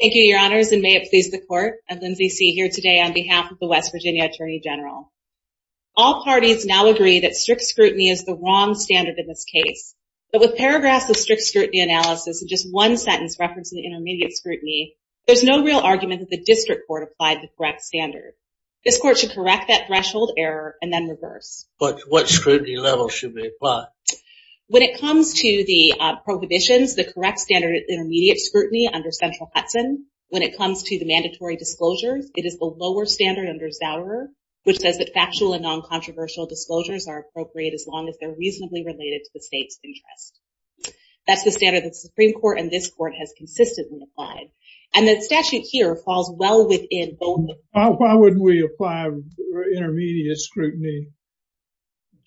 Thank you, your honors, and may it please the court, I'm Lindsay See here today on behalf of the West Virginia Attorney General. All parties now agree that strict scrutiny is the wrong standard in this case, but with paragraphs of strict scrutiny analysis and just one sentence referencing the intermediate scrutiny, there's no real argument that the district court applied the correct standard. This court should correct that threshold error and then reverse. But what scrutiny level should we apply? When it comes to the prohibitions, the correct standard of intermediate scrutiny under central Hudson, when it comes to the mandatory disclosures, it is the lower standard under Zouderer, which says that factual and non-controversial disclosures are appropriate as long as they're reasonably related to the state's interest. That's the standard that the Supreme Court and this court has consistently applied. And the statute here falls well within both of them. Why wouldn't we apply intermediate scrutiny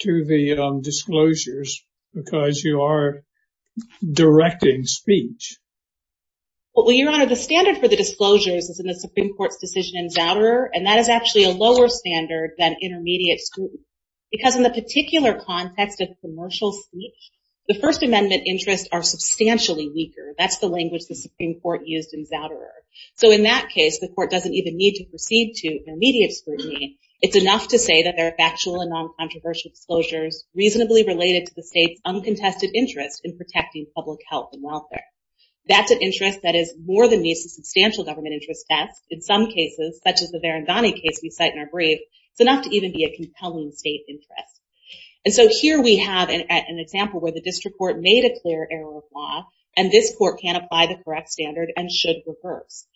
to the disclosures because you are directing speech? Well, your honor, the standard for the disclosures is in the Supreme Court's decision in Zouderer, and that is actually a lower standard than intermediate scrutiny. Because in the particular context of commercial speech, the First Amendment interests are substantially weaker. That's the language the Supreme Court used in Zouderer. So in that case, the court doesn't even need to proceed to intermediate scrutiny. It's enough to say that there are factual and non-controversial disclosures reasonably related to the state's uncontested interest in protecting public health and welfare. That's an interest that is more than needs a substantial government interest test. In some cases, such as the Varangani case we cite in our brief, it's enough to even be a compelling state interest. And so here we have an example where the district court made a clear error of law and this court can't apply the correct standard and should reverse.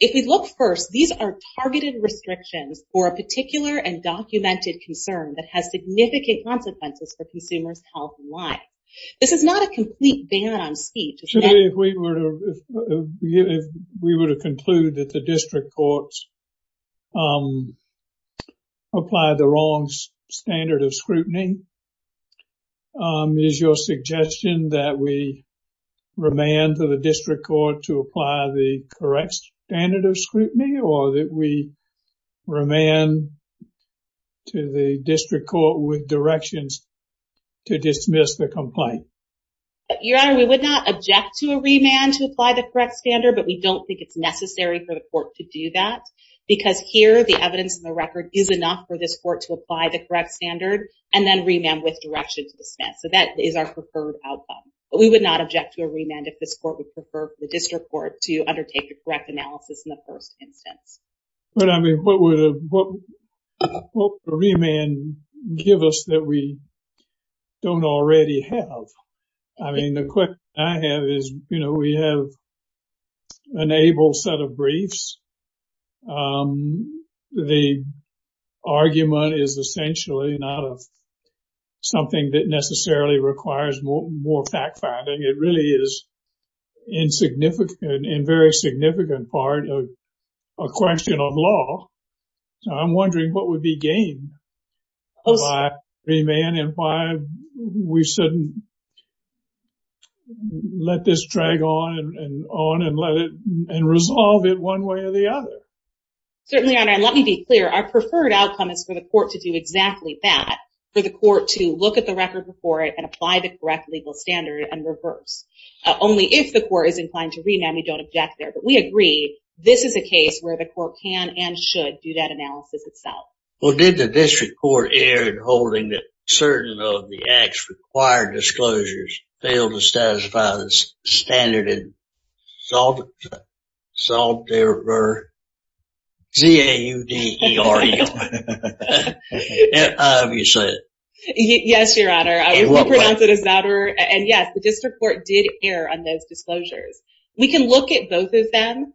If we look first, these are targeted restrictions for a particular and documented concern that has significant consequences for consumers' health and life. This is not a complete ban on speech. If we were to conclude that the district courts applied the wrong standard of scrutiny, is your suggestion that we remand to the district court to apply the correct standard of scrutiny or that we remand to the district court with directions to dismiss the complaint? Your Honor, we would not object to a remand to apply the correct standard, but we don't think it's necessary for the court to do that because here the evidence in the record is enough for this court to apply the correct standard and then remand with direction to dismiss our preferred outcome. But we would not object to a remand if this court would prefer the district court to undertake a correct analysis in the first instance. But I mean, what would a remand give us that we don't already have? I mean, the question I have is, you know, we have an able set of briefs. The argument is essentially not of something that necessarily requires more fact-finding. It really is insignificant and very significant part of a question of law. I'm wondering what would be gained by remand and why we shouldn't let this drag on and resolve it one way or the other. Certainly, Your Honor, and let me be clear. Our preferred outcome is for the court to do exactly that, for the court to look at the record before it and apply the correct legal standard and reverse. Only if the court is inclined to remand, we don't object there. But we agree this is a case where the court can and should do that analysis itself. Well, did the district court err in holding that certain of the acts required disclosures which failed to satisfy the standard in Zauderer, Z-A-U-D-E-R-E-R, as you said? Yes, Your Honor, I will pronounce it as Zauderer. And yes, the district court did err on those disclosures. We can look at both of them.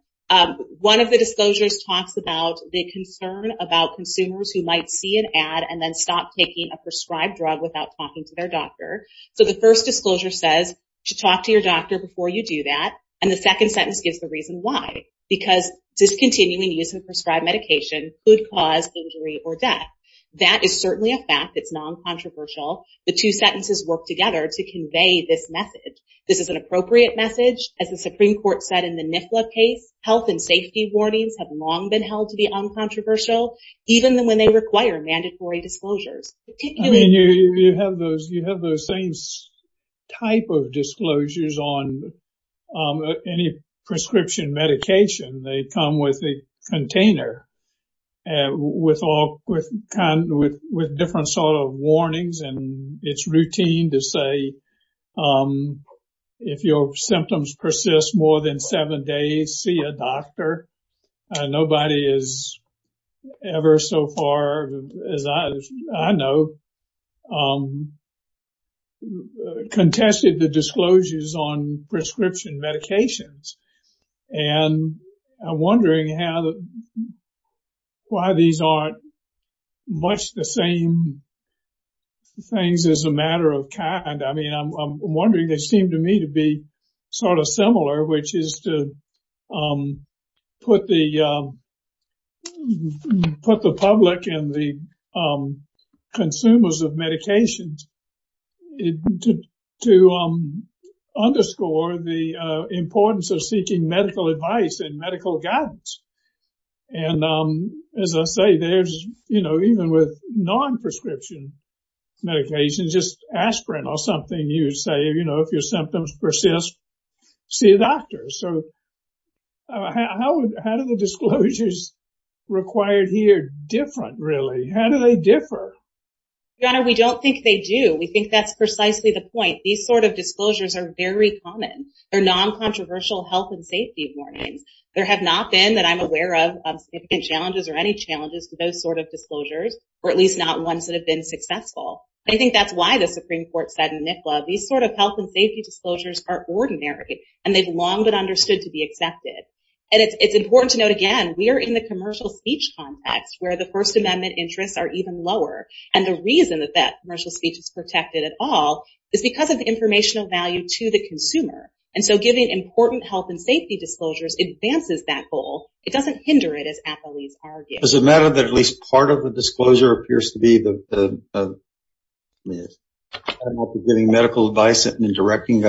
One of the disclosures talks about the concern about consumers who might see an ad and then stop taking a prescribed drug without talking to their doctor. So the first disclosure says, you should talk to your doctor before you do that. And the second sentence gives the reason why, because discontinuing use of prescribed medication could cause injury or death. That is certainly a fact. It's non-controversial. The two sentences work together to convey this message. This is an appropriate message. As the Supreme Court said in the NIFLA case, health and safety warnings have long been held to be uncontroversial, even when they require mandatory disclosures. I mean, you have those same type of disclosures on any prescription medication. They come with a container with different sort of warnings. And it's routine to say, if your symptoms persist more than seven days, see a doctor. Nobody has ever so far, as I know, contested the disclosures on prescription medications. And I'm wondering why these aren't much the same things as a matter of kind. I mean, I'm wondering, they seem to me to be sort of similar, which is to put the public and the consumers of medications to underscore the importance of seeking medical advice and medical guidance. And as I say, there's, you know, even with non-prescription medications, just aspirin or something, you say, you know, if your symptoms persist, see a doctor. So how do the disclosures required here differ, really? How do they differ? Your Honor, we don't think they do. We think that's precisely the point. These sort of disclosures are very common. They're non-controversial health and safety warnings. There have not been, that I'm aware of, significant challenges or any challenges to those sort of disclosures, or at least not ones that have been successful. I think that's why the Supreme Court said in NIFLA, these sort of health and safety disclosures are ordinary and they've long been understood to be accepted. And it's important to note, again, we are in the commercial speech context where the First Amendment interests are even lower. And the reason that that commercial speech is protected at all is because of the informational value to the consumer. And so giving important health and safety disclosures advances that goal. It doesn't hinder it, as appellees argue. Does it matter that at least part of the disclosure appears to be the, I don't know if it's giving medical advice and directing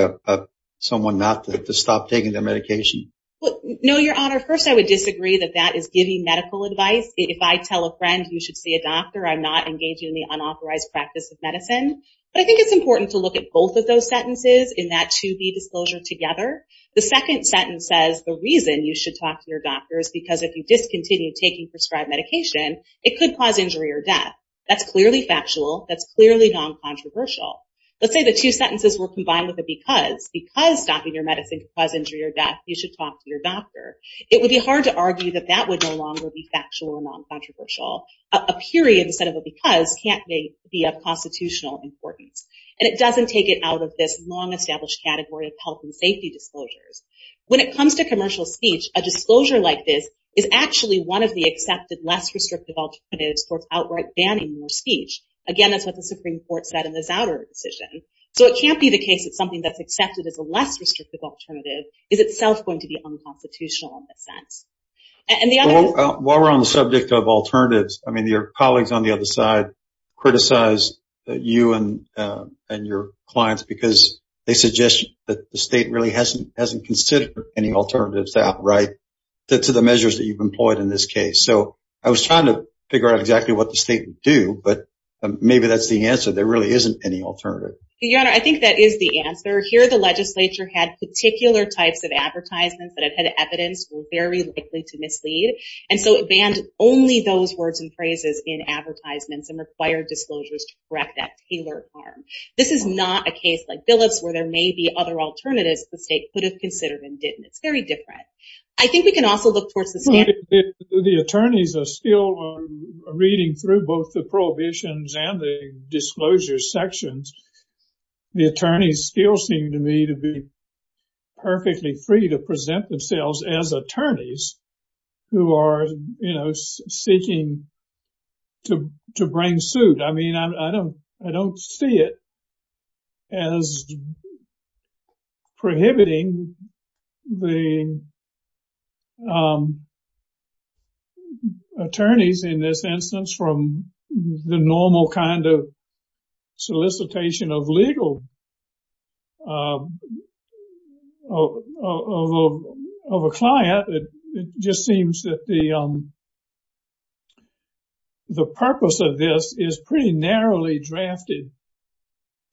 someone not to stop taking their medication? Well, no, Your Honor. First, I would disagree that that is giving medical advice. If I tell a friend, you should see a doctor, I'm not engaging in the unauthorized practice of medicine. But I think it's important to look at both of those sentences in that to be disclosure together. The second sentence says the reason you should talk to your doctor is because if you discontinue taking prescribed medication, it could cause injury or death. That's clearly factual. That's clearly non-controversial. Let's say the two sentences were combined with a because. Because stopping your medicine could cause injury or death, you should talk to your doctor. It would be hard to argue that that would no longer be factual or non-controversial. A period instead of a because can't be of constitutional importance. And it doesn't take it out of this long-established category of health and safety disclosures. When it comes to commercial speech, a disclosure like this is actually one of the accepted, less restrictive alternatives for outright banning your speech. Again, that's what the Supreme Court said in this outer decision. So it can't be the case that something that's accepted as a less restrictive alternative is itself going to be unconstitutional in that sense. And while we're on the subject of alternatives, I mean, your colleagues on the other side criticized you and your clients because they suggest that the state really hasn't considered any alternatives outright to the measures that you've employed in this case. So I was trying to figure out exactly what the state would do, but maybe that's the answer. There really isn't any alternative. Your Honor, I think that is the answer. Here, the legislature had particular types of advertisements that had evidence were very likely to mislead. And so it banned only those words and phrases in advertisements and required disclosures to correct that tailored harm. This is not a case like Billups, where there may be other alternatives the state could have considered and didn't. It's very different. I think we can also look towards the state. The attorneys are still reading through both the prohibitions and the disclosure sections. The attorneys still seem to me to be perfectly free to present themselves as people who are, you know, seeking to bring suit. I mean, I don't see it as prohibiting the attorneys in this instance from the normal kind of solicitation of legal, of a client. It just seems that the purpose of this is pretty narrowly drafted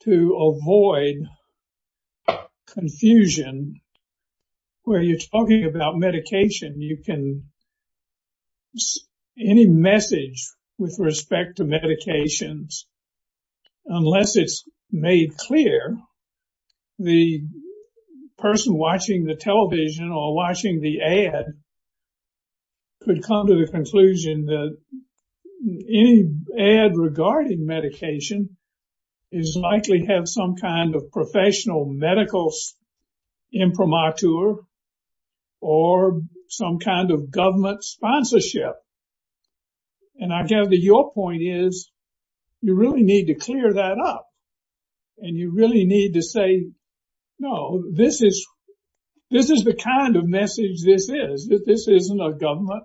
to avoid confusion. Where you're talking about medication, you can, any message with respect to medications, unless it's made clear, the person watching the television or watching the ad could come to the conclusion that any ad regarding medication is likely to have some kind of professional medical imprimatur or some kind of government sponsorship. And I gather your point is you really need to clear that up and you really need to say, no, this is the kind of message this is. This isn't a government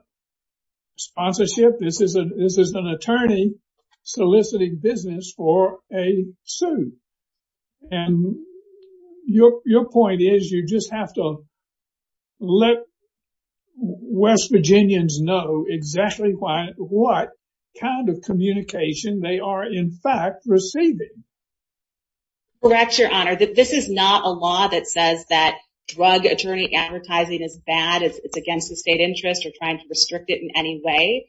sponsorship. This is an attorney soliciting business for a suit. And your point is you just have to let West Virginians know exactly what kind of communication they are, in fact, receiving. Correct, Your Honor. This is not a law that says that drug attorney advertising is bad, it's against the state interest or trying to restrict it in any way.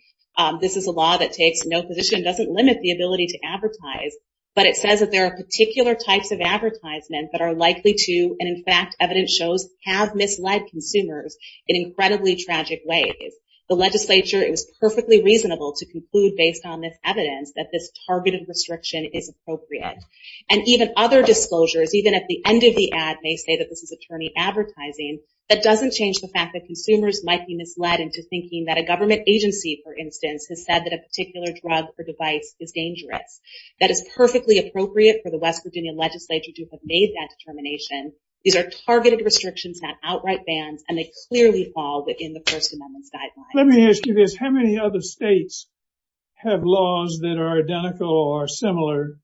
This is a law that takes no position, doesn't limit the ability to advertise. But it says that there are particular types of advertisement that are likely to, and in fact, evidence shows, have misled consumers in incredibly tragic ways. The legislature, it was perfectly reasonable to conclude based on this evidence that this targeted restriction is appropriate. And even other disclosures, even at the end of the ad, may say that this is attorney advertising. That doesn't change the fact that consumers might be misled into thinking that a government agency, for instance, has said that a particular drug or device is dangerous. That is perfectly appropriate for the West Virginia legislature to have made that determination. These are targeted restrictions, not outright bans, and they clearly fall within the First Amendment's guidelines. Let me ask you this. How many other states have laws that are identical or similar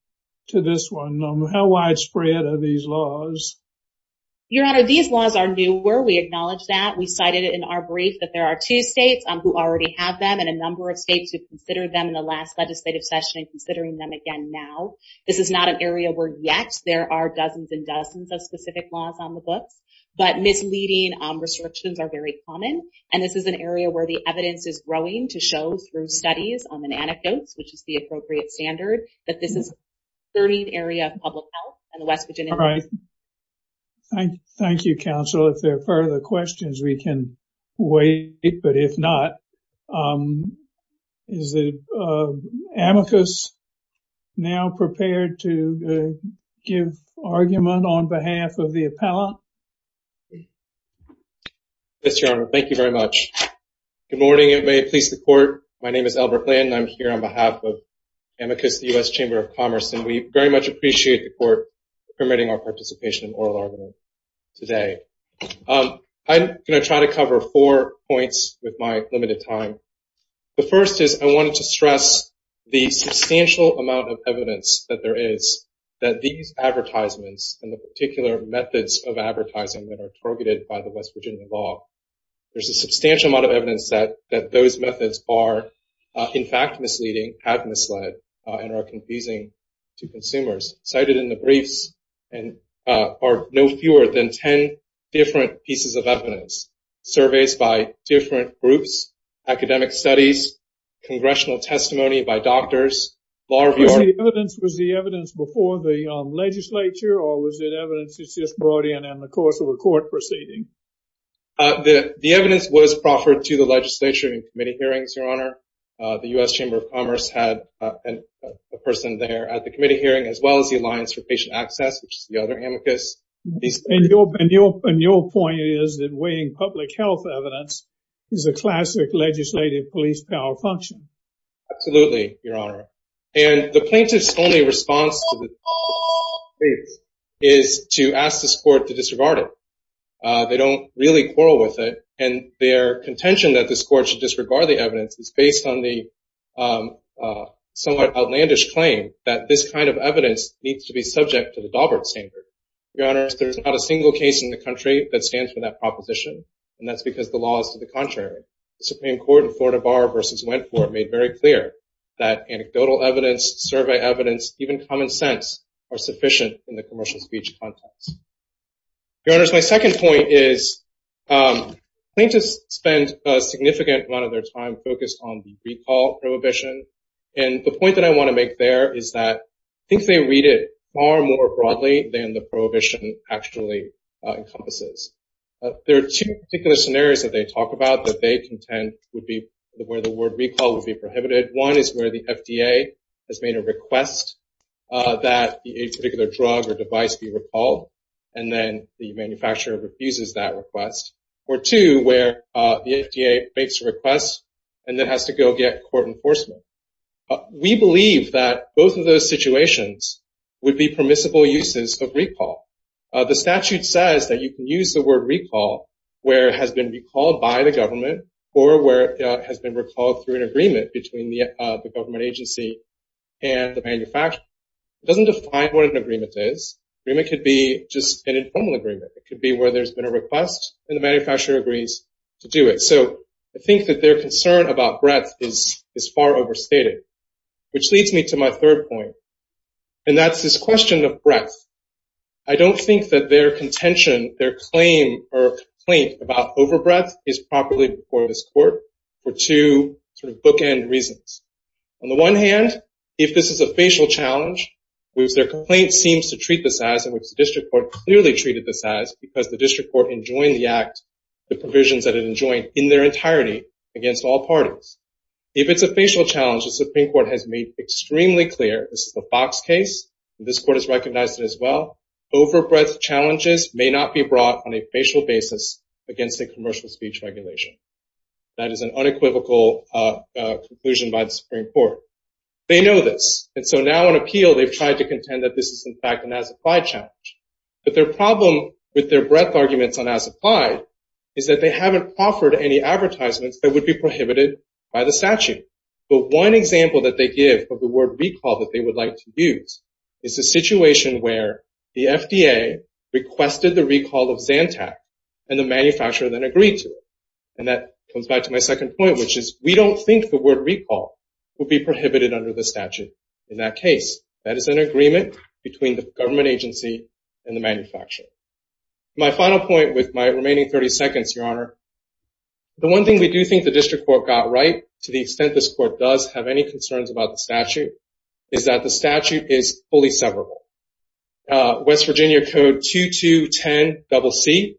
to this one? How widespread are these laws? Your Honor, these laws are newer. We acknowledge that. We cited in our brief that there are two states who already have them and a number of states that are adopting them again now. This is not an area where yet there are dozens and dozens of specific laws on the books, but misleading restrictions are very common. And this is an area where the evidence is growing to show through studies and anecdotes, which is the appropriate standard, that this is a concerning area of public health in the West Virginia. All right. Thank you, counsel. If there are further questions, we can wait. But if not, is the amicus now prepared to give argument on behalf of the appellant? Yes, Your Honor. Thank you very much. Good morning. It may please the court. My name is Albert Land. I'm here on behalf of amicus, the U.S. Chamber of Commerce. And we very much appreciate the court permitting our participation in oral argument today. I'm going to try to cover four points with my limited time. The first is I wanted to stress the substantial amount of evidence that there is that these advertisements and the particular methods of advertising that are targeted by the West Virginia law, there's a substantial amount of evidence that those methods are, in fact, misleading, have misled and are confusing to consumers cited in the briefs and are no different pieces of evidence. Surveys by different groups, academic studies, congressional testimony by doctors, law review. Was the evidence before the legislature or was it evidence that was brought in in the course of a court proceeding? The evidence was proffered to the legislature in committee hearings, Your Honor. The U.S. Chamber of Commerce had a person there at the committee hearing, as well as the Alliance for Patient Access, which is the other amicus. And your point is that weighing public health evidence is a classic legislative police power function. Absolutely, Your Honor. And the plaintiff's only response to the briefs is to ask this court to disregard it. They don't really quarrel with it. And their contention that this court should disregard the evidence is based on the somewhat outlandish claim that this kind of evidence needs to be subject to the Daubert standard. Your Honor, there's not a single case in the country that stands for that proposition. And that's because the law is to the contrary. Supreme Court in Florida Bar v. Wentworth made very clear that anecdotal evidence, survey evidence, even common sense are sufficient in the commercial speech context. Your Honor, my second point is plaintiffs spend a significant amount of their time focused on the recall prohibition. And the point that I want to make there is that I think they read it far more broadly than the prohibition actually encompasses. There are two particular scenarios that they talk about that they contend would be where the word recall would be prohibited. One is where the FDA has made a request that a particular drug or device be recalled. And then the manufacturer refuses that request. Or two, where the FDA makes a request and then has to go get court enforcement. We believe that both of those situations would be permissible uses of recall. The statute says that you can use the word recall where it has been recalled by the government or where it has been recalled through an agreement between the government agency and the manufacturer. It doesn't define what an agreement is. Agreement could be just an informal agreement. It could be where there's been a request and the manufacturer agrees to do it. So I think that their concern about breadth is far overstated, which leads me to my third point. And that's this question of breadth. I don't think that their contention, their claim or complaint about over breadth is properly before this court for two sort of bookend reasons. On the one hand, if this is a facial challenge, which their complaint seems to treat this as, and which the district court clearly treated this as because the district court enjoined the act, the provisions that it enjoined in their entirety against all parties. If it's a facial challenge, the Supreme Court has made extremely clear this is the Fox case. This court has recognized it as well. Over breadth challenges may not be brought on a facial basis against a commercial speech regulation. That is an unequivocal conclusion by the Supreme Court. They know this. And so now on appeal, they've tried to contend that this is in fact an over breadth argument on as applied, is that they haven't offered any advertisements that would be prohibited by the statute. But one example that they give of the word recall that they would like to use is a situation where the FDA requested the recall of Zantac and the manufacturer then agreed to it. And that comes back to my second point, which is we don't think the word recall would be prohibited under the statute in that case. That is an agreement between the government agency and the manufacturer. My final point with my remaining 30 seconds, Your Honor, the one thing we do think the district court got right, to the extent this court does have any concerns about the statute, is that the statute is fully severable. West Virginia Code 2210C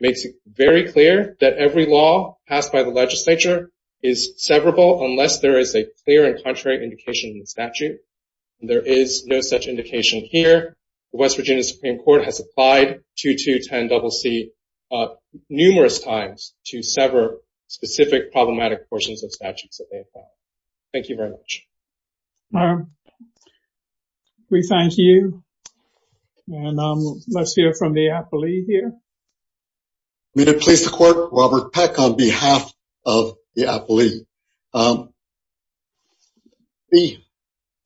makes it very clear that every law passed by the legislature is severable unless there is a clear and contrary indication in the statute. There is no such indication here. The West Virginia Supreme Court has applied 2210C numerous times to sever specific problematic portions of statutes that they apply. Thank you very much. We thank you. And let's hear from the appellee here. May it please the court, Robert Peck on behalf of the appellee. The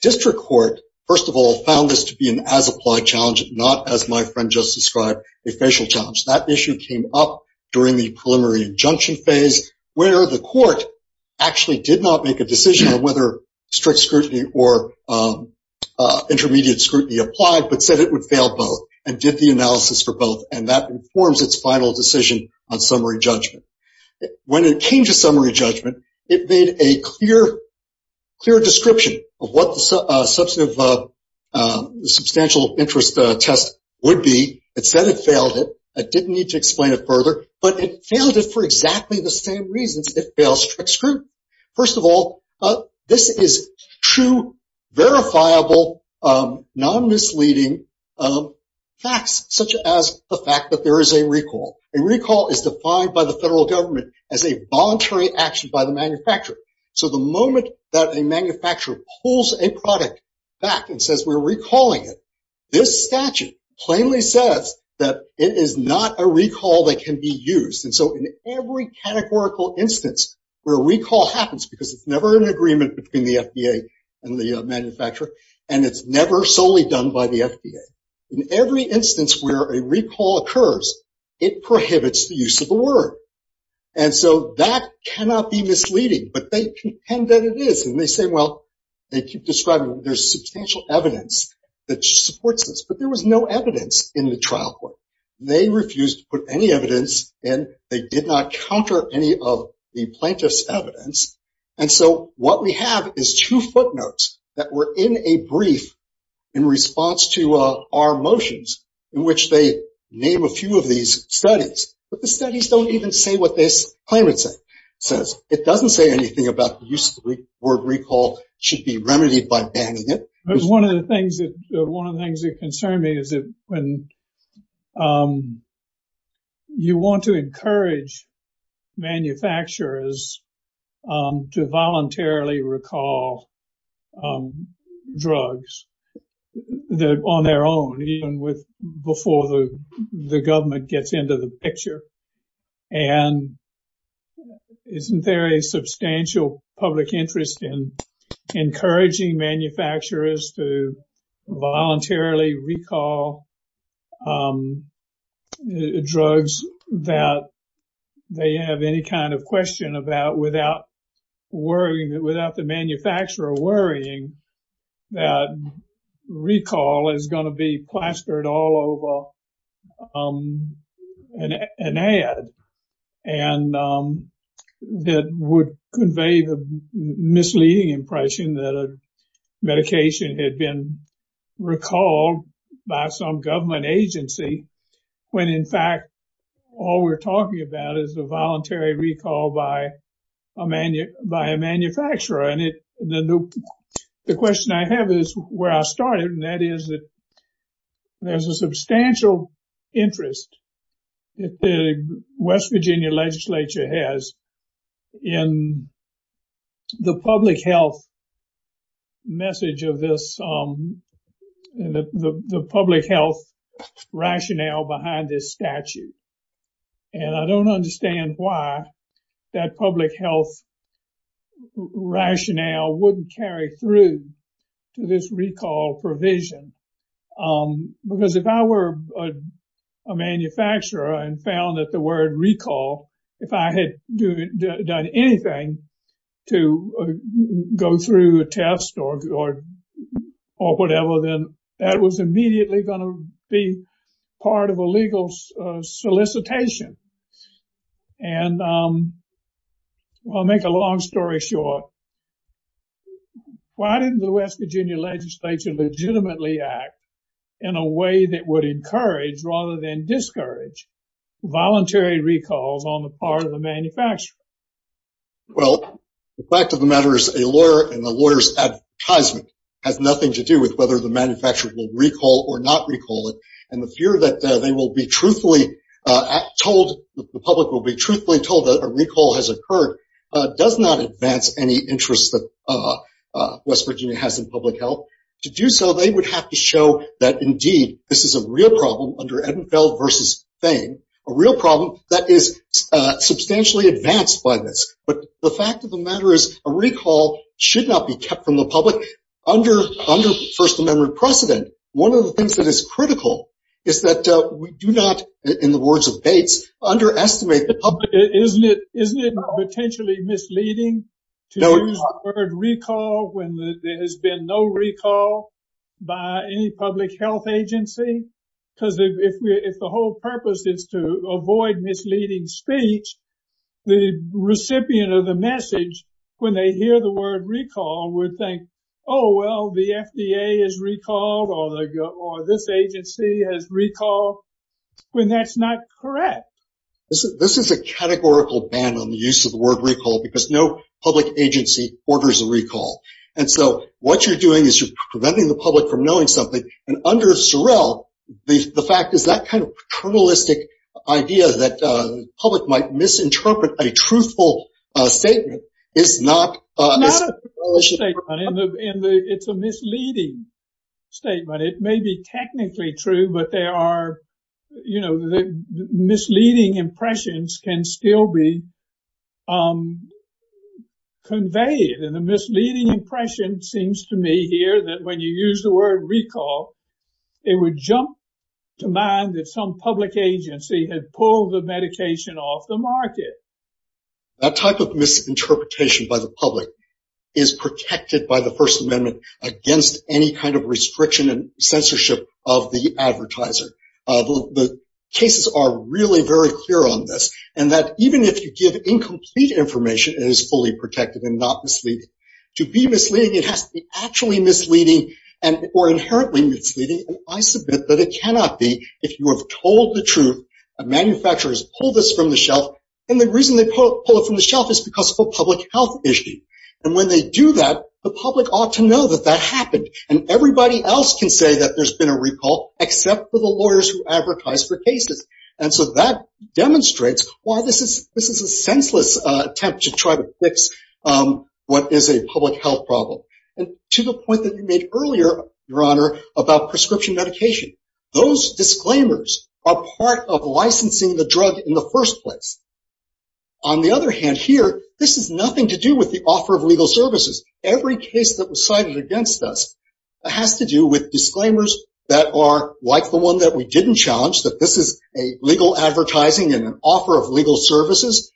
district court, first of all, found this to be an as-applied challenge, not, as my friend just described, a facial challenge. That issue came up during the preliminary injunction phase, where the court actually did not make a decision on whether strict scrutiny or intermediate scrutiny applied, but said it would fail both and did the analysis for both. And that informs its final decision on summary judgment. When it came to summary judgment, it made a clear, clear description of what the substantive substantial interest test would be. It said it failed it. It didn't need to explain it further, but it failed it for exactly the same reasons it fails strict scrutiny. First of all, this is true, verifiable, non-misleading facts, such as the fact that there is a recall. A recall is defined by the federal government as a voluntary action by the manufacturer. So the moment that a manufacturer pulls a product back and says we're recalling it, this statute plainly says that it is not a recall that can be used. And so in every categorical instance where a recall happens, because it's never an agreement between the FDA and the manufacturer, and it's never solely done by the manufacturer, it prohibits the use of the word. And so that cannot be misleading, but they contend that it is. And they say, well, they keep describing there's substantial evidence that supports this, but there was no evidence in the trial court. They refused to put any evidence and they did not counter any of the plaintiff's evidence. And so what we have is two footnotes that were in a brief in response to our motions in which they name a few of these studies, but the studies don't even say what this claimant says. It doesn't say anything about the use of the word recall should be remedied by banning it. That's one of the things that one of the things that concern me is that when you want to encourage manufacturers to voluntarily recall drugs on their own, before the government gets into the picture, and isn't there a substantial public interest in encouraging manufacturers to voluntarily recall drugs that they have any kind of question about without worrying, without the manufacturer worrying that recall is going to be plastered all over an ad and that would convey the misleading impression that a medication had been recalled by some government agency, when in fact, all we're talking about is a voluntary recall by a manufacturer. The question I have is where I started, and that is that there's a substantial interest that the West Virginia legislature has in the public health message of this, the public health rationale behind this statute. And I don't understand why that public health rationale wouldn't carry through to this recall provision, because if I were a manufacturer and found that the word recall, if I had done anything to go through a test or whatever, then that was immediately going to be part of a legal solicitation. And I'll make a long story short. Why didn't the West Virginia legislature legitimately act in a way that would encourage rather than discourage voluntary recalls on the part of the manufacturer? Well, the fact of the matter is a lawyer and the lawyer's advertisement has nothing to do with whether the manufacturer will recall or not recall it, and the fear that they will be truthfully told, the public will be truthfully told that a recall has occurred does not advance any interest that West Virginia has in public health. To do so, they would have to show that indeed, this is a real problem under Edenfeld versus Fain, a real problem that is substantially advanced by this. But the fact of the matter is a recall should not be kept from the public under First Amendment precedent. One of the things that is critical is that we do not, in the words of Bates, underestimate the public. Isn't it potentially misleading to use the word recall when there has been no recall by any public health agency? Because if the whole purpose is to avoid misleading speech, the recipient of the message when they hear the word recall would think, oh, well, the FDA has recalled or this agency has recalled when that's not correct. This is a categorical ban on the use of the word recall because no public agency orders a recall. And so what you're doing is you're preventing the public from knowing something. And under Sorrell, the fact is that kind of paternalistic idea that the public might misinterpret a truthful statement is not. It's not a true statement, it's a misleading statement. It may be technically true, but there are, you know, misleading impressions can still be conveyed. And the misleading impression seems to me here that when you use the word recall, it would jump to mind that some public agency had pulled the medication off the market. That type of misinterpretation by the public is protected by the First Amendment against any kind of restriction and censorship of the advertiser. The cases are really very clear on this and that even if you give incomplete information, it is fully protected and not misleading. To be misleading, it has to be actually misleading and or inherently misleading. I submit that it cannot be. If you have told the truth, a manufacturer has pulled this from the shelf. And the reason they pull it from the shelf is because of a public health issue. And when they do that, the public ought to know that that happened. And everybody else can say that there's been a recall except for the lawyers who advertise for cases. And so that demonstrates why this is this is a senseless attempt to try to fix what is a public health problem. And to the point that you made earlier, Your Honor, about prescription medication, those disclaimers are part of licensing the drug in the first place. On the other hand here, this has nothing to do with the offer of legal services. Every case that was cited against us has to do with disclaimers that are like the one that we didn't challenge, that this is a legal advertising and an offer of legal services.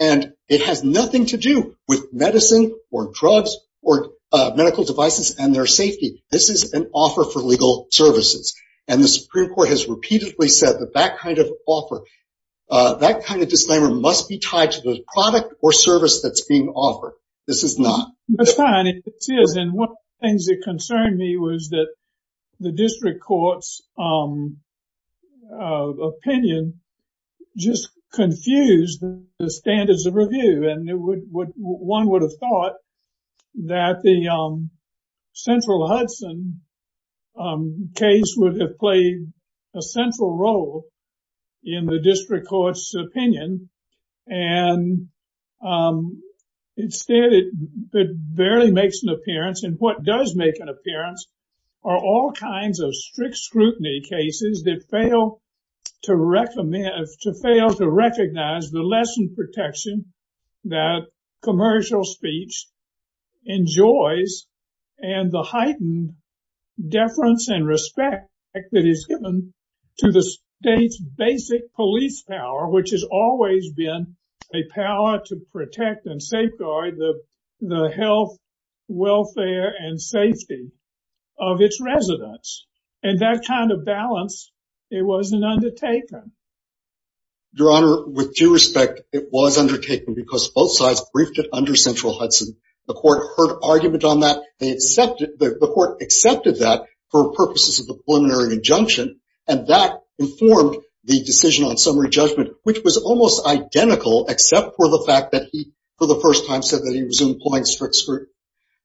And it has nothing to do with medicine or drugs or medical devices and their safety. This is an offer for legal services. And the Supreme Court has repeatedly said that that kind of offer, that kind of disclaimer must be tied to the product or service that's being offered. This is not. That's fine. It is. And one of the things that concerned me was that the district court's opinion just confused the standards of review. And one would have thought that the Central Hudson case would have played a central role in the case. Instead, it barely makes an appearance. And what does make an appearance are all kinds of strict scrutiny cases that fail to recognize the lesson protection that commercial speech enjoys and the heightened deference and respect that is given to the state's basic police power, which has always been a power to protect and safeguard the health, welfare, and safety of its residents. And that kind of balance, it wasn't undertaken. Your Honor, with due respect, it was undertaken because both sides briefed it under Central Hudson. The court heard argument on that. The court accepted that for purposes of the preliminary injunction, and that informed the fact that he, for the first time, said that he was employing strict scrutiny.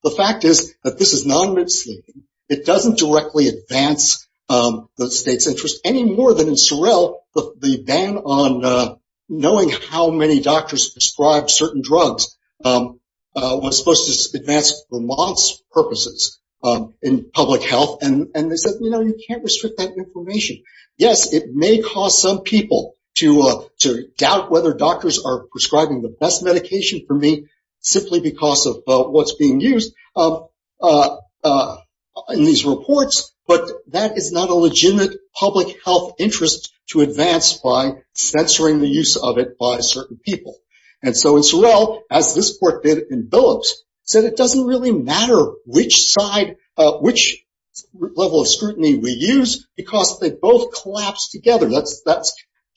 The fact is that this is non-medicine. It doesn't directly advance the state's interest any more than in Sorrel, the ban on knowing how many doctors prescribe certain drugs was supposed to advance Vermont's purposes in public health. And they said, you know, you can't restrict that information. Yes, it may cause some people to doubt whether doctors are prescribing the best medication for me simply because of what's being used in these reports. But that is not a legitimate public health interest to advance by censoring the use of it by certain people. And so in Sorrel, as this court did in Billups, said it doesn't really matter which level of scrutiny we use because they both collapse together. That's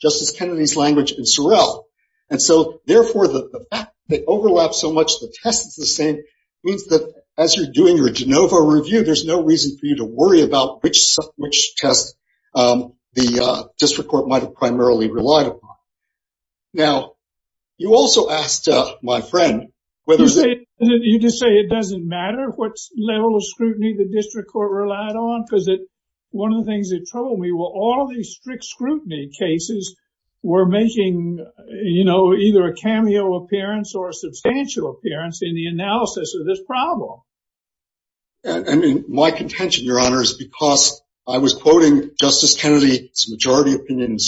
Justice Kennedy's language in Sorrel. And so, therefore, the fact that they overlap so much, the test is the same, means that as you're doing your Genova review, there's no reason for you to worry about which test the district court might have primarily relied upon. Now, you also asked my friend whether... You just say it doesn't matter what level of scrutiny the district court relied on, because one of the things that troubled me were all these strict scrutiny cases were making, you know, either a cameo appearance or a substantial appearance in the analysis of this problem. And my contention, Your Honor, is because I was quoting Justice Kennedy's majority opinion in the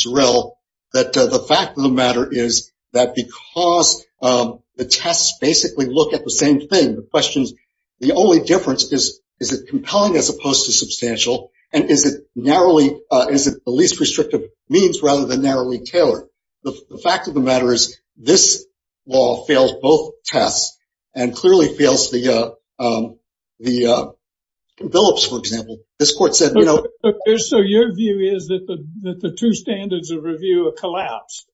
same thing, the question is, the only difference is, is it compelling as opposed to substantial? And is it narrowly, is it the least restrictive means rather than narrowly tailored? The fact of the matter is, this law fails both tests and clearly fails the Billups, for example. This court said, you know... So your view is that the two standards of review collapse?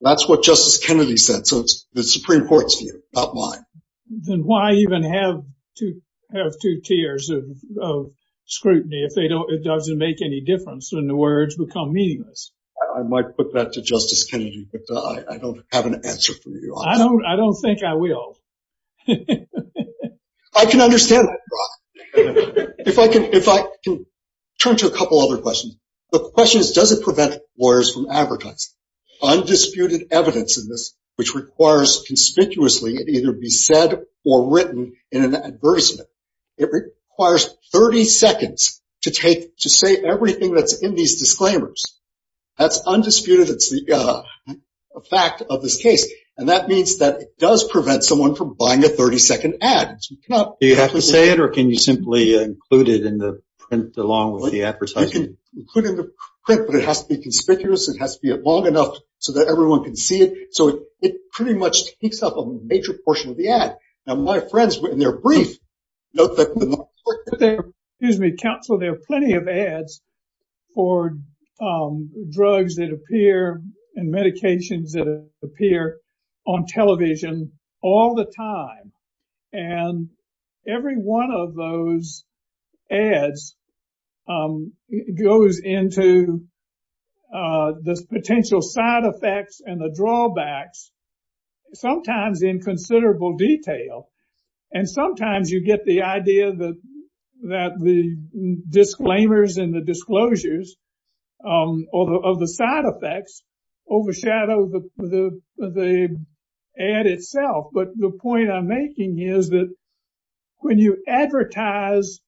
That's what Justice Kennedy said. So it's the Supreme Court's view, not mine. Then why even have to have two tiers of scrutiny if it doesn't make any difference when the words become meaningless? I might put that to Justice Kennedy, but I don't have an answer for you. I don't think I will. I can understand that, Brock. If I can turn to a couple other questions. The question is, does it prevent lawyers from advertising undisputed evidence in this which requires conspicuously it either be said or written in an advertisement? It requires 30 seconds to take to say everything that's in these disclaimers. That's undisputed. It's the fact of this case. And that means that it does prevent someone from buying a 30 second ad. Do you have to say it or can you simply include it in the print along with the advertisement? Including the print, but it has to be conspicuous. It has to be long enough so that everyone can see it. So it pretty much takes up a major portion of the ad. Now, my friends, when they're briefed. Excuse me, counsel. There are plenty of ads for drugs that appear and medications that appear on television all the time. And every one of those ads goes into the potential side effects and the drawbacks, sometimes in considerable detail. And sometimes you get the idea that the disclaimers and the disclosures of the side effects overshadow the ad itself. But the point I'm making is that when you advertise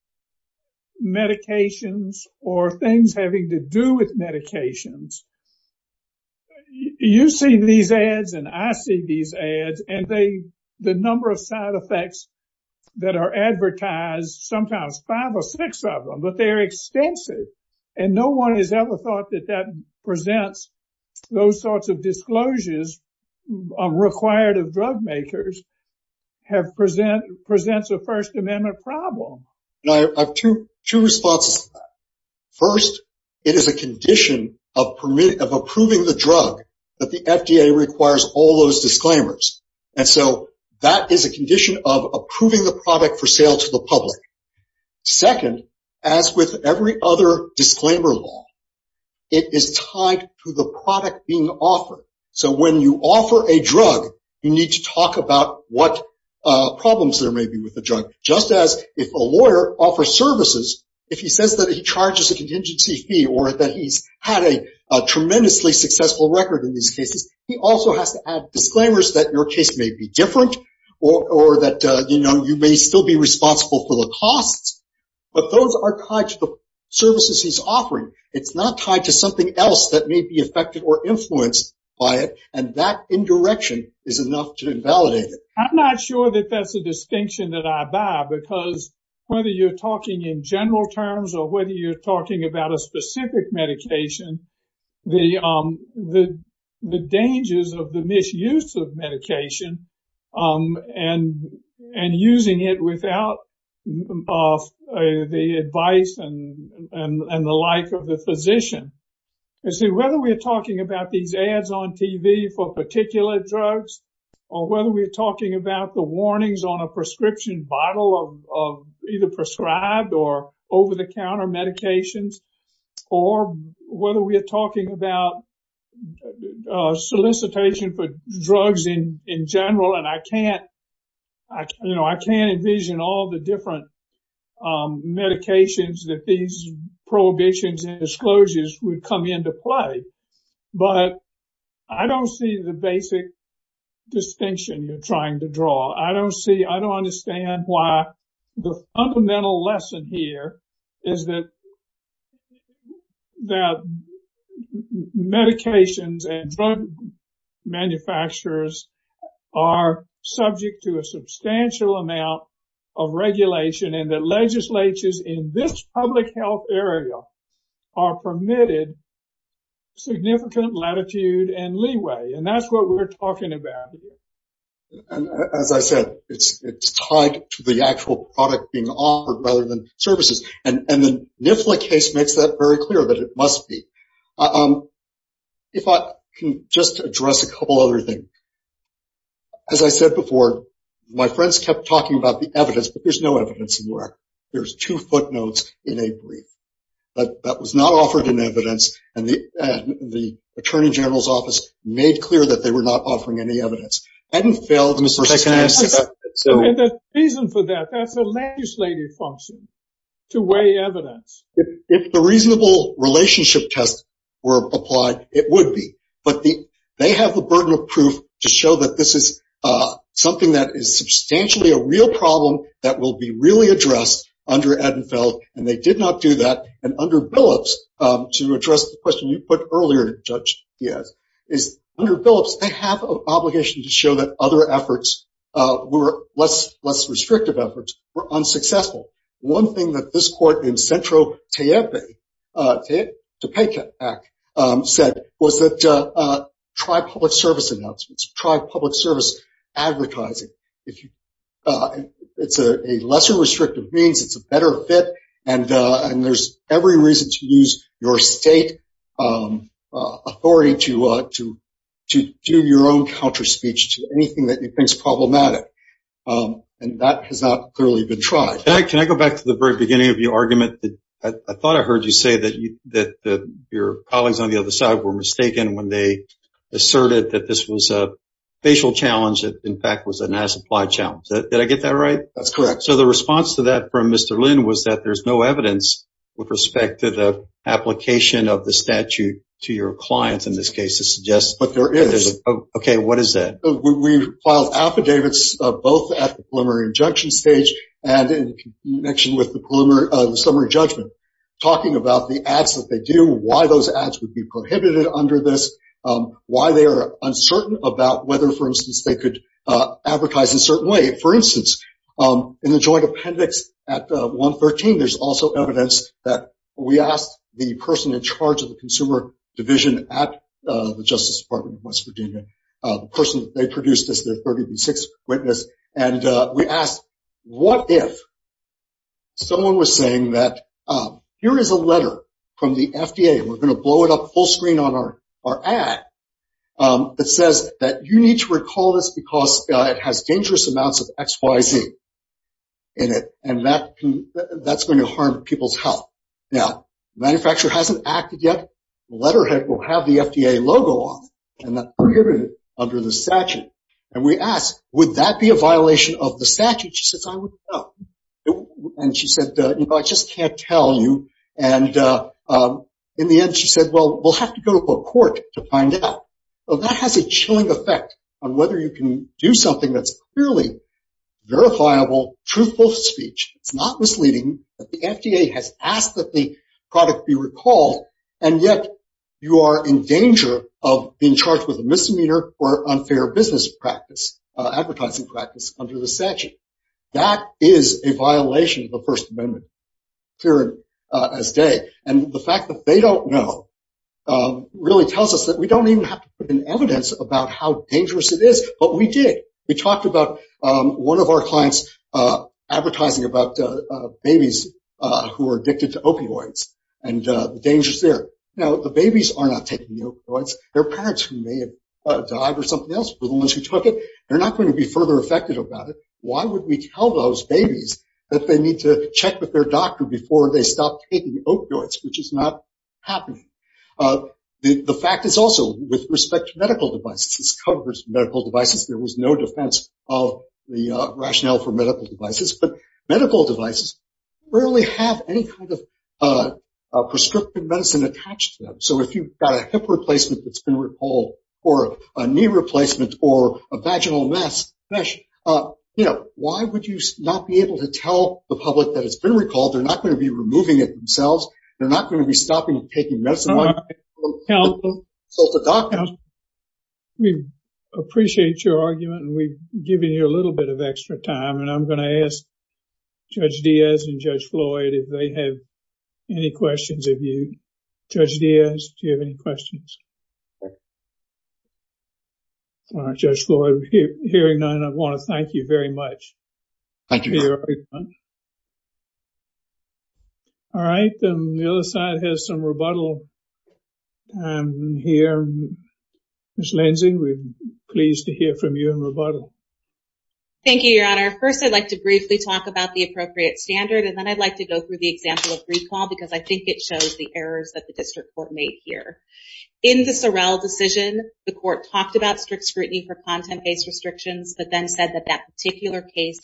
medications or things having to do with medications. You see these ads and I see these ads and the number of side effects that are advertised, sometimes five or six of them, but they're extensive. And no one has ever thought that that presents those sorts of disclosures required of drug makers have present presents a First Amendment problem. I have two responses. First, it is a condition of approving the drug that the FDA requires all those disclaimers. And so that is a condition of approving the product for sale to the public. Second, as with every other disclaimer law, it is tied to the product being offered. So when you offer a drug, you need to talk about what problems there may be with the drug. Just as if a lawyer offers services, if he says that he charges a contingency fee or that he's had a tremendously successful record in these cases, he also has to add disclaimers that your case may be different or that, you know, you may still be responsible for the costs. But those are tied to the services he's offering. It's not tied to something else that may be affected or influenced by it. And that indirection is enough to invalidate it. I'm not sure that that's a distinction that I buy, because whether you're talking in general terms or whether you're talking about a specific medication, the dangers of the misuse of medication and using it without the advice and the like of the physician. You see, whether we're talking about these ads on TV for particular drugs or whether we're talking about the warnings on a prescription bottle of either prescribed or over-the-counter medications, or whether we are talking about solicitation for drugs in general. And I can't, you know, I can't envision all the different medications that these prohibitions and disclosures would come into play. But I don't see the basic distinction you're trying to draw. I don't see, I don't understand why the fundamental lesson here is that that medications and drug manufacturers are subject to a substantial amount of regulation and that legislatures in this public health area are permitted significant latitude and leeway. And that's what we're talking about. And as I said, it's tied to the actual product being offered rather than services. And the NIFLA case makes that very clear that it must be. If I can just address a couple other things. As I said before, my friends kept talking about the evidence, but there's no evidence anywhere. But that was not offered in evidence. And the attorney general's office made clear that they were not offering any evidence. And Edenfeld... And the reason for that, that's a legislative function to weigh evidence. If the reasonable relationship tests were applied, it would be. But they have the burden of proof to show that this is something that is substantially a real problem that will be really addressed under Edenfeld. And they did not do that. And under Billups, to address the question you put earlier, Judge Diaz, is under Billups, they have an obligation to show that other efforts were less restrictive efforts were unsuccessful. One thing that this court in Centro Tepeque said was that try public service announcements, try public service advertising. If it's a lesser restrictive means, it's a better fit. And there's every reason to use your state authority to do your own counter speech to anything that you think is problematic. And that has not clearly been tried. Can I go back to the very beginning of your argument? I thought I heard you say that your colleagues on the other side were mistaken when they asserted that this was a facial challenge that in fact was an as-applied challenge. Did I get that right? That's correct. So the response to that from Mr. Lynn was that there's no evidence with respect to the application of the statute to your clients in this case to suggest... But there is. Okay, what is that? We filed affidavits both at the preliminary injunction stage and in connection with the summary judgment, talking about the ads that they do, why those ads would be prohibited under this, why they are uncertain about whether, for instance, they could advertise in a certain way. For instance, in the joint appendix at 113, there's also evidence that we asked the person in charge of the consumer division at the Justice Department of West Virginia, the person that they produced this, their 36th witness, and we asked, what if someone was saying that here is a letter from the FDA, and we're going to blow it up full screen on our ad that says that you need to recall this because it has dangerous amounts of XYZ in it and that's going to harm people's health. Now, the manufacturer hasn't acted yet. The letterhead will have the FDA logo on it and that's prohibited under the statute. And we asked, would that be a violation of the statute? She says, I don't know. And she said, you know, I just can't tell you. And in the end, she said, well, we'll have to go to a court to find out. Well, that has a chilling effect on whether you can do something that's clearly verifiable, truthful speech. It's not misleading that the FDA has asked that the product be recalled. And yet you are in danger of being charged with a misdemeanor or unfair business practice, advertising practice under the statute. That is a violation of the First Amendment, clear as day. And the fact that they don't know really tells us that we don't even have to put in evidence about how dangerous it is. But we did. We talked about one of our clients advertising about babies who are addicted to opioids and the dangers there. Now, the babies are not taking opioids. Their parents who may have died or something else were the ones who took it. They're not going to be further affected about it. Why would we tell those babies that they need to check with their doctor before they stop taking opioids, which is not happening? The fact is also, with respect to medical devices, this covers medical devices. There was no defense of the rationale for medical devices. But medical devices rarely have any kind of prescriptive medicine attached to them. So if you've got a hip replacement that's been recalled or a knee replacement or a vaginal mesh, you know, why would you not be able to tell the public that it's been recalled? They're not going to be removing it themselves. They're not going to be stopping and taking medicine. All right, we appreciate your argument. And we've given you a little bit of extra time. And I'm going to ask Judge Diaz and Judge Floyd if they have any questions of you. Judge Diaz, do you have any questions? Judge Floyd, hearing none, I want to thank you very much. Thank you. Thank you very much. All right, the other side has some rebuttal here. Ms. Lenzing, we're pleased to hear from you in rebuttal. Thank you, Your Honor. First, I'd like to briefly talk about the appropriate standard. And then I'd like to go through the example of recall, because I think it shows the errors that the district court made here. In the Sorrell decision, the court talked about strict scrutiny for content-based restrictions, but then said that that particular case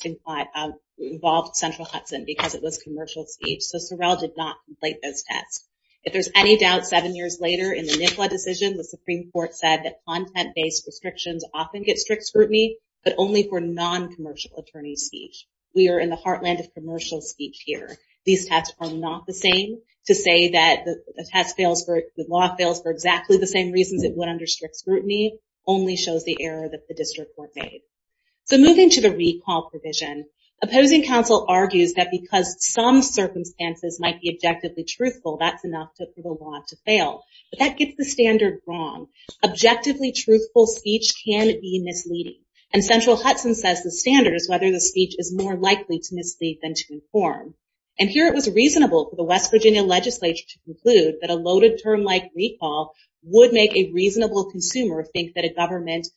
involved Central Hudson because it was commercial speech. So Sorrell did not complete those tests. If there's any doubt, seven years later in the NIFLA decision, the Supreme Court said that content-based restrictions often get strict scrutiny, but only for non-commercial attorney speech. We are in the heartland of commercial speech here. These tests are not the same. To say that the test fails, the law fails for exactly the same reasons it would under strict scrutiny, only shows the error that the district court made. So moving to the recall provision, opposing counsel argues that because some circumstances might be objectively truthful, that's enough for the law to fail. But that gets the standard wrong. Objectively truthful speech can be misleading. And Central Hudson says the standard is whether the speech is more likely to mislead than to inform. And here it was reasonable for the West Virginia legislature to conclude that a loaded term like recall would make a reasonable consumer think that a government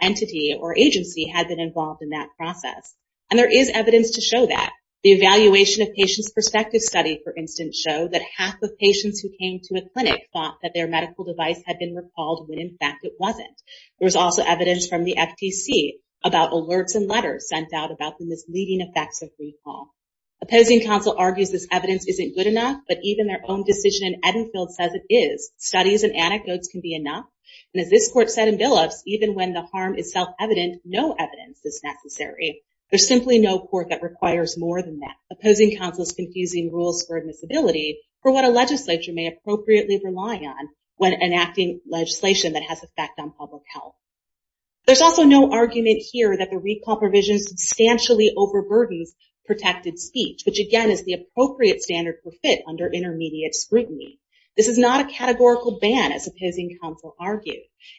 entity or agency had been involved in that process. And there is evidence to show that. The evaluation of patients' perspective study, for instance, show that half of patients who came to a clinic thought that their medical device had been recalled when, in fact, it wasn't. There was also evidence from the FTC about alerts and letters sent out about the misleading effects of recall. Opposing counsel argues this evidence isn't good enough, but even their own decision in Edenfield says it is. Studies and anecdotes can be enough. And as this court said in Billups, even when the harm is self-evident, no evidence is necessary. There's simply no court that requires more than that. Opposing counsel is confusing rules for admissibility for what a legislature may appropriately rely on when enacting legislation that has effect on public health. There's also no argument here that the recall provision substantially overburdens protected speech, which again is the appropriate standard for fit under intermediate scrutiny. This is not a categorical ban, as opposing counsel argued.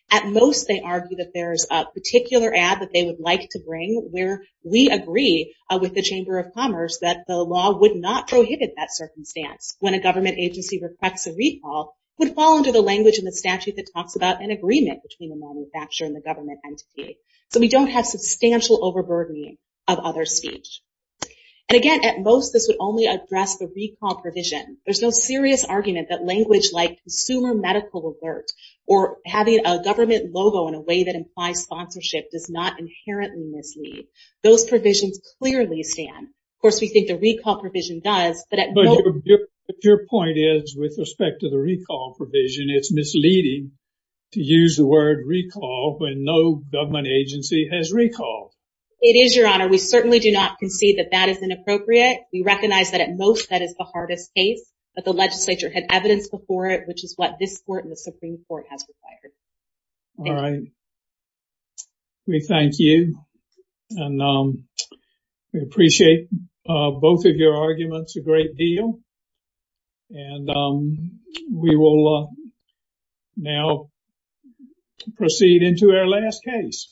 At most, they argue that there is a particular ad that they would like to bring where we agree with the Chamber of Commerce that the law would not prohibit that circumstance. When a government agency requests a recall, it would fall under the language in the statute that talks about an agreement between the manufacturer and the government entity. So we don't have substantial overburdening of other speech. And again, at most, this would only address the recall provision. There's no serious argument that language like consumer medical alert or having a government logo in a way that implies sponsorship does not inherently mislead. Those provisions clearly stand. Of course, we think the recall provision does. But your point is, with respect to the recall provision, it's misleading to use the word recall when no government agency has recalled. It is, Your Honor. We certainly do not concede that that is inappropriate. We recognize that at most, that is the hardest case. But the legislature had evidence before it, which is what this Court and the Supreme Court has required. All right. We thank you and we appreciate both of your arguments a great deal. And we will now proceed into our last case.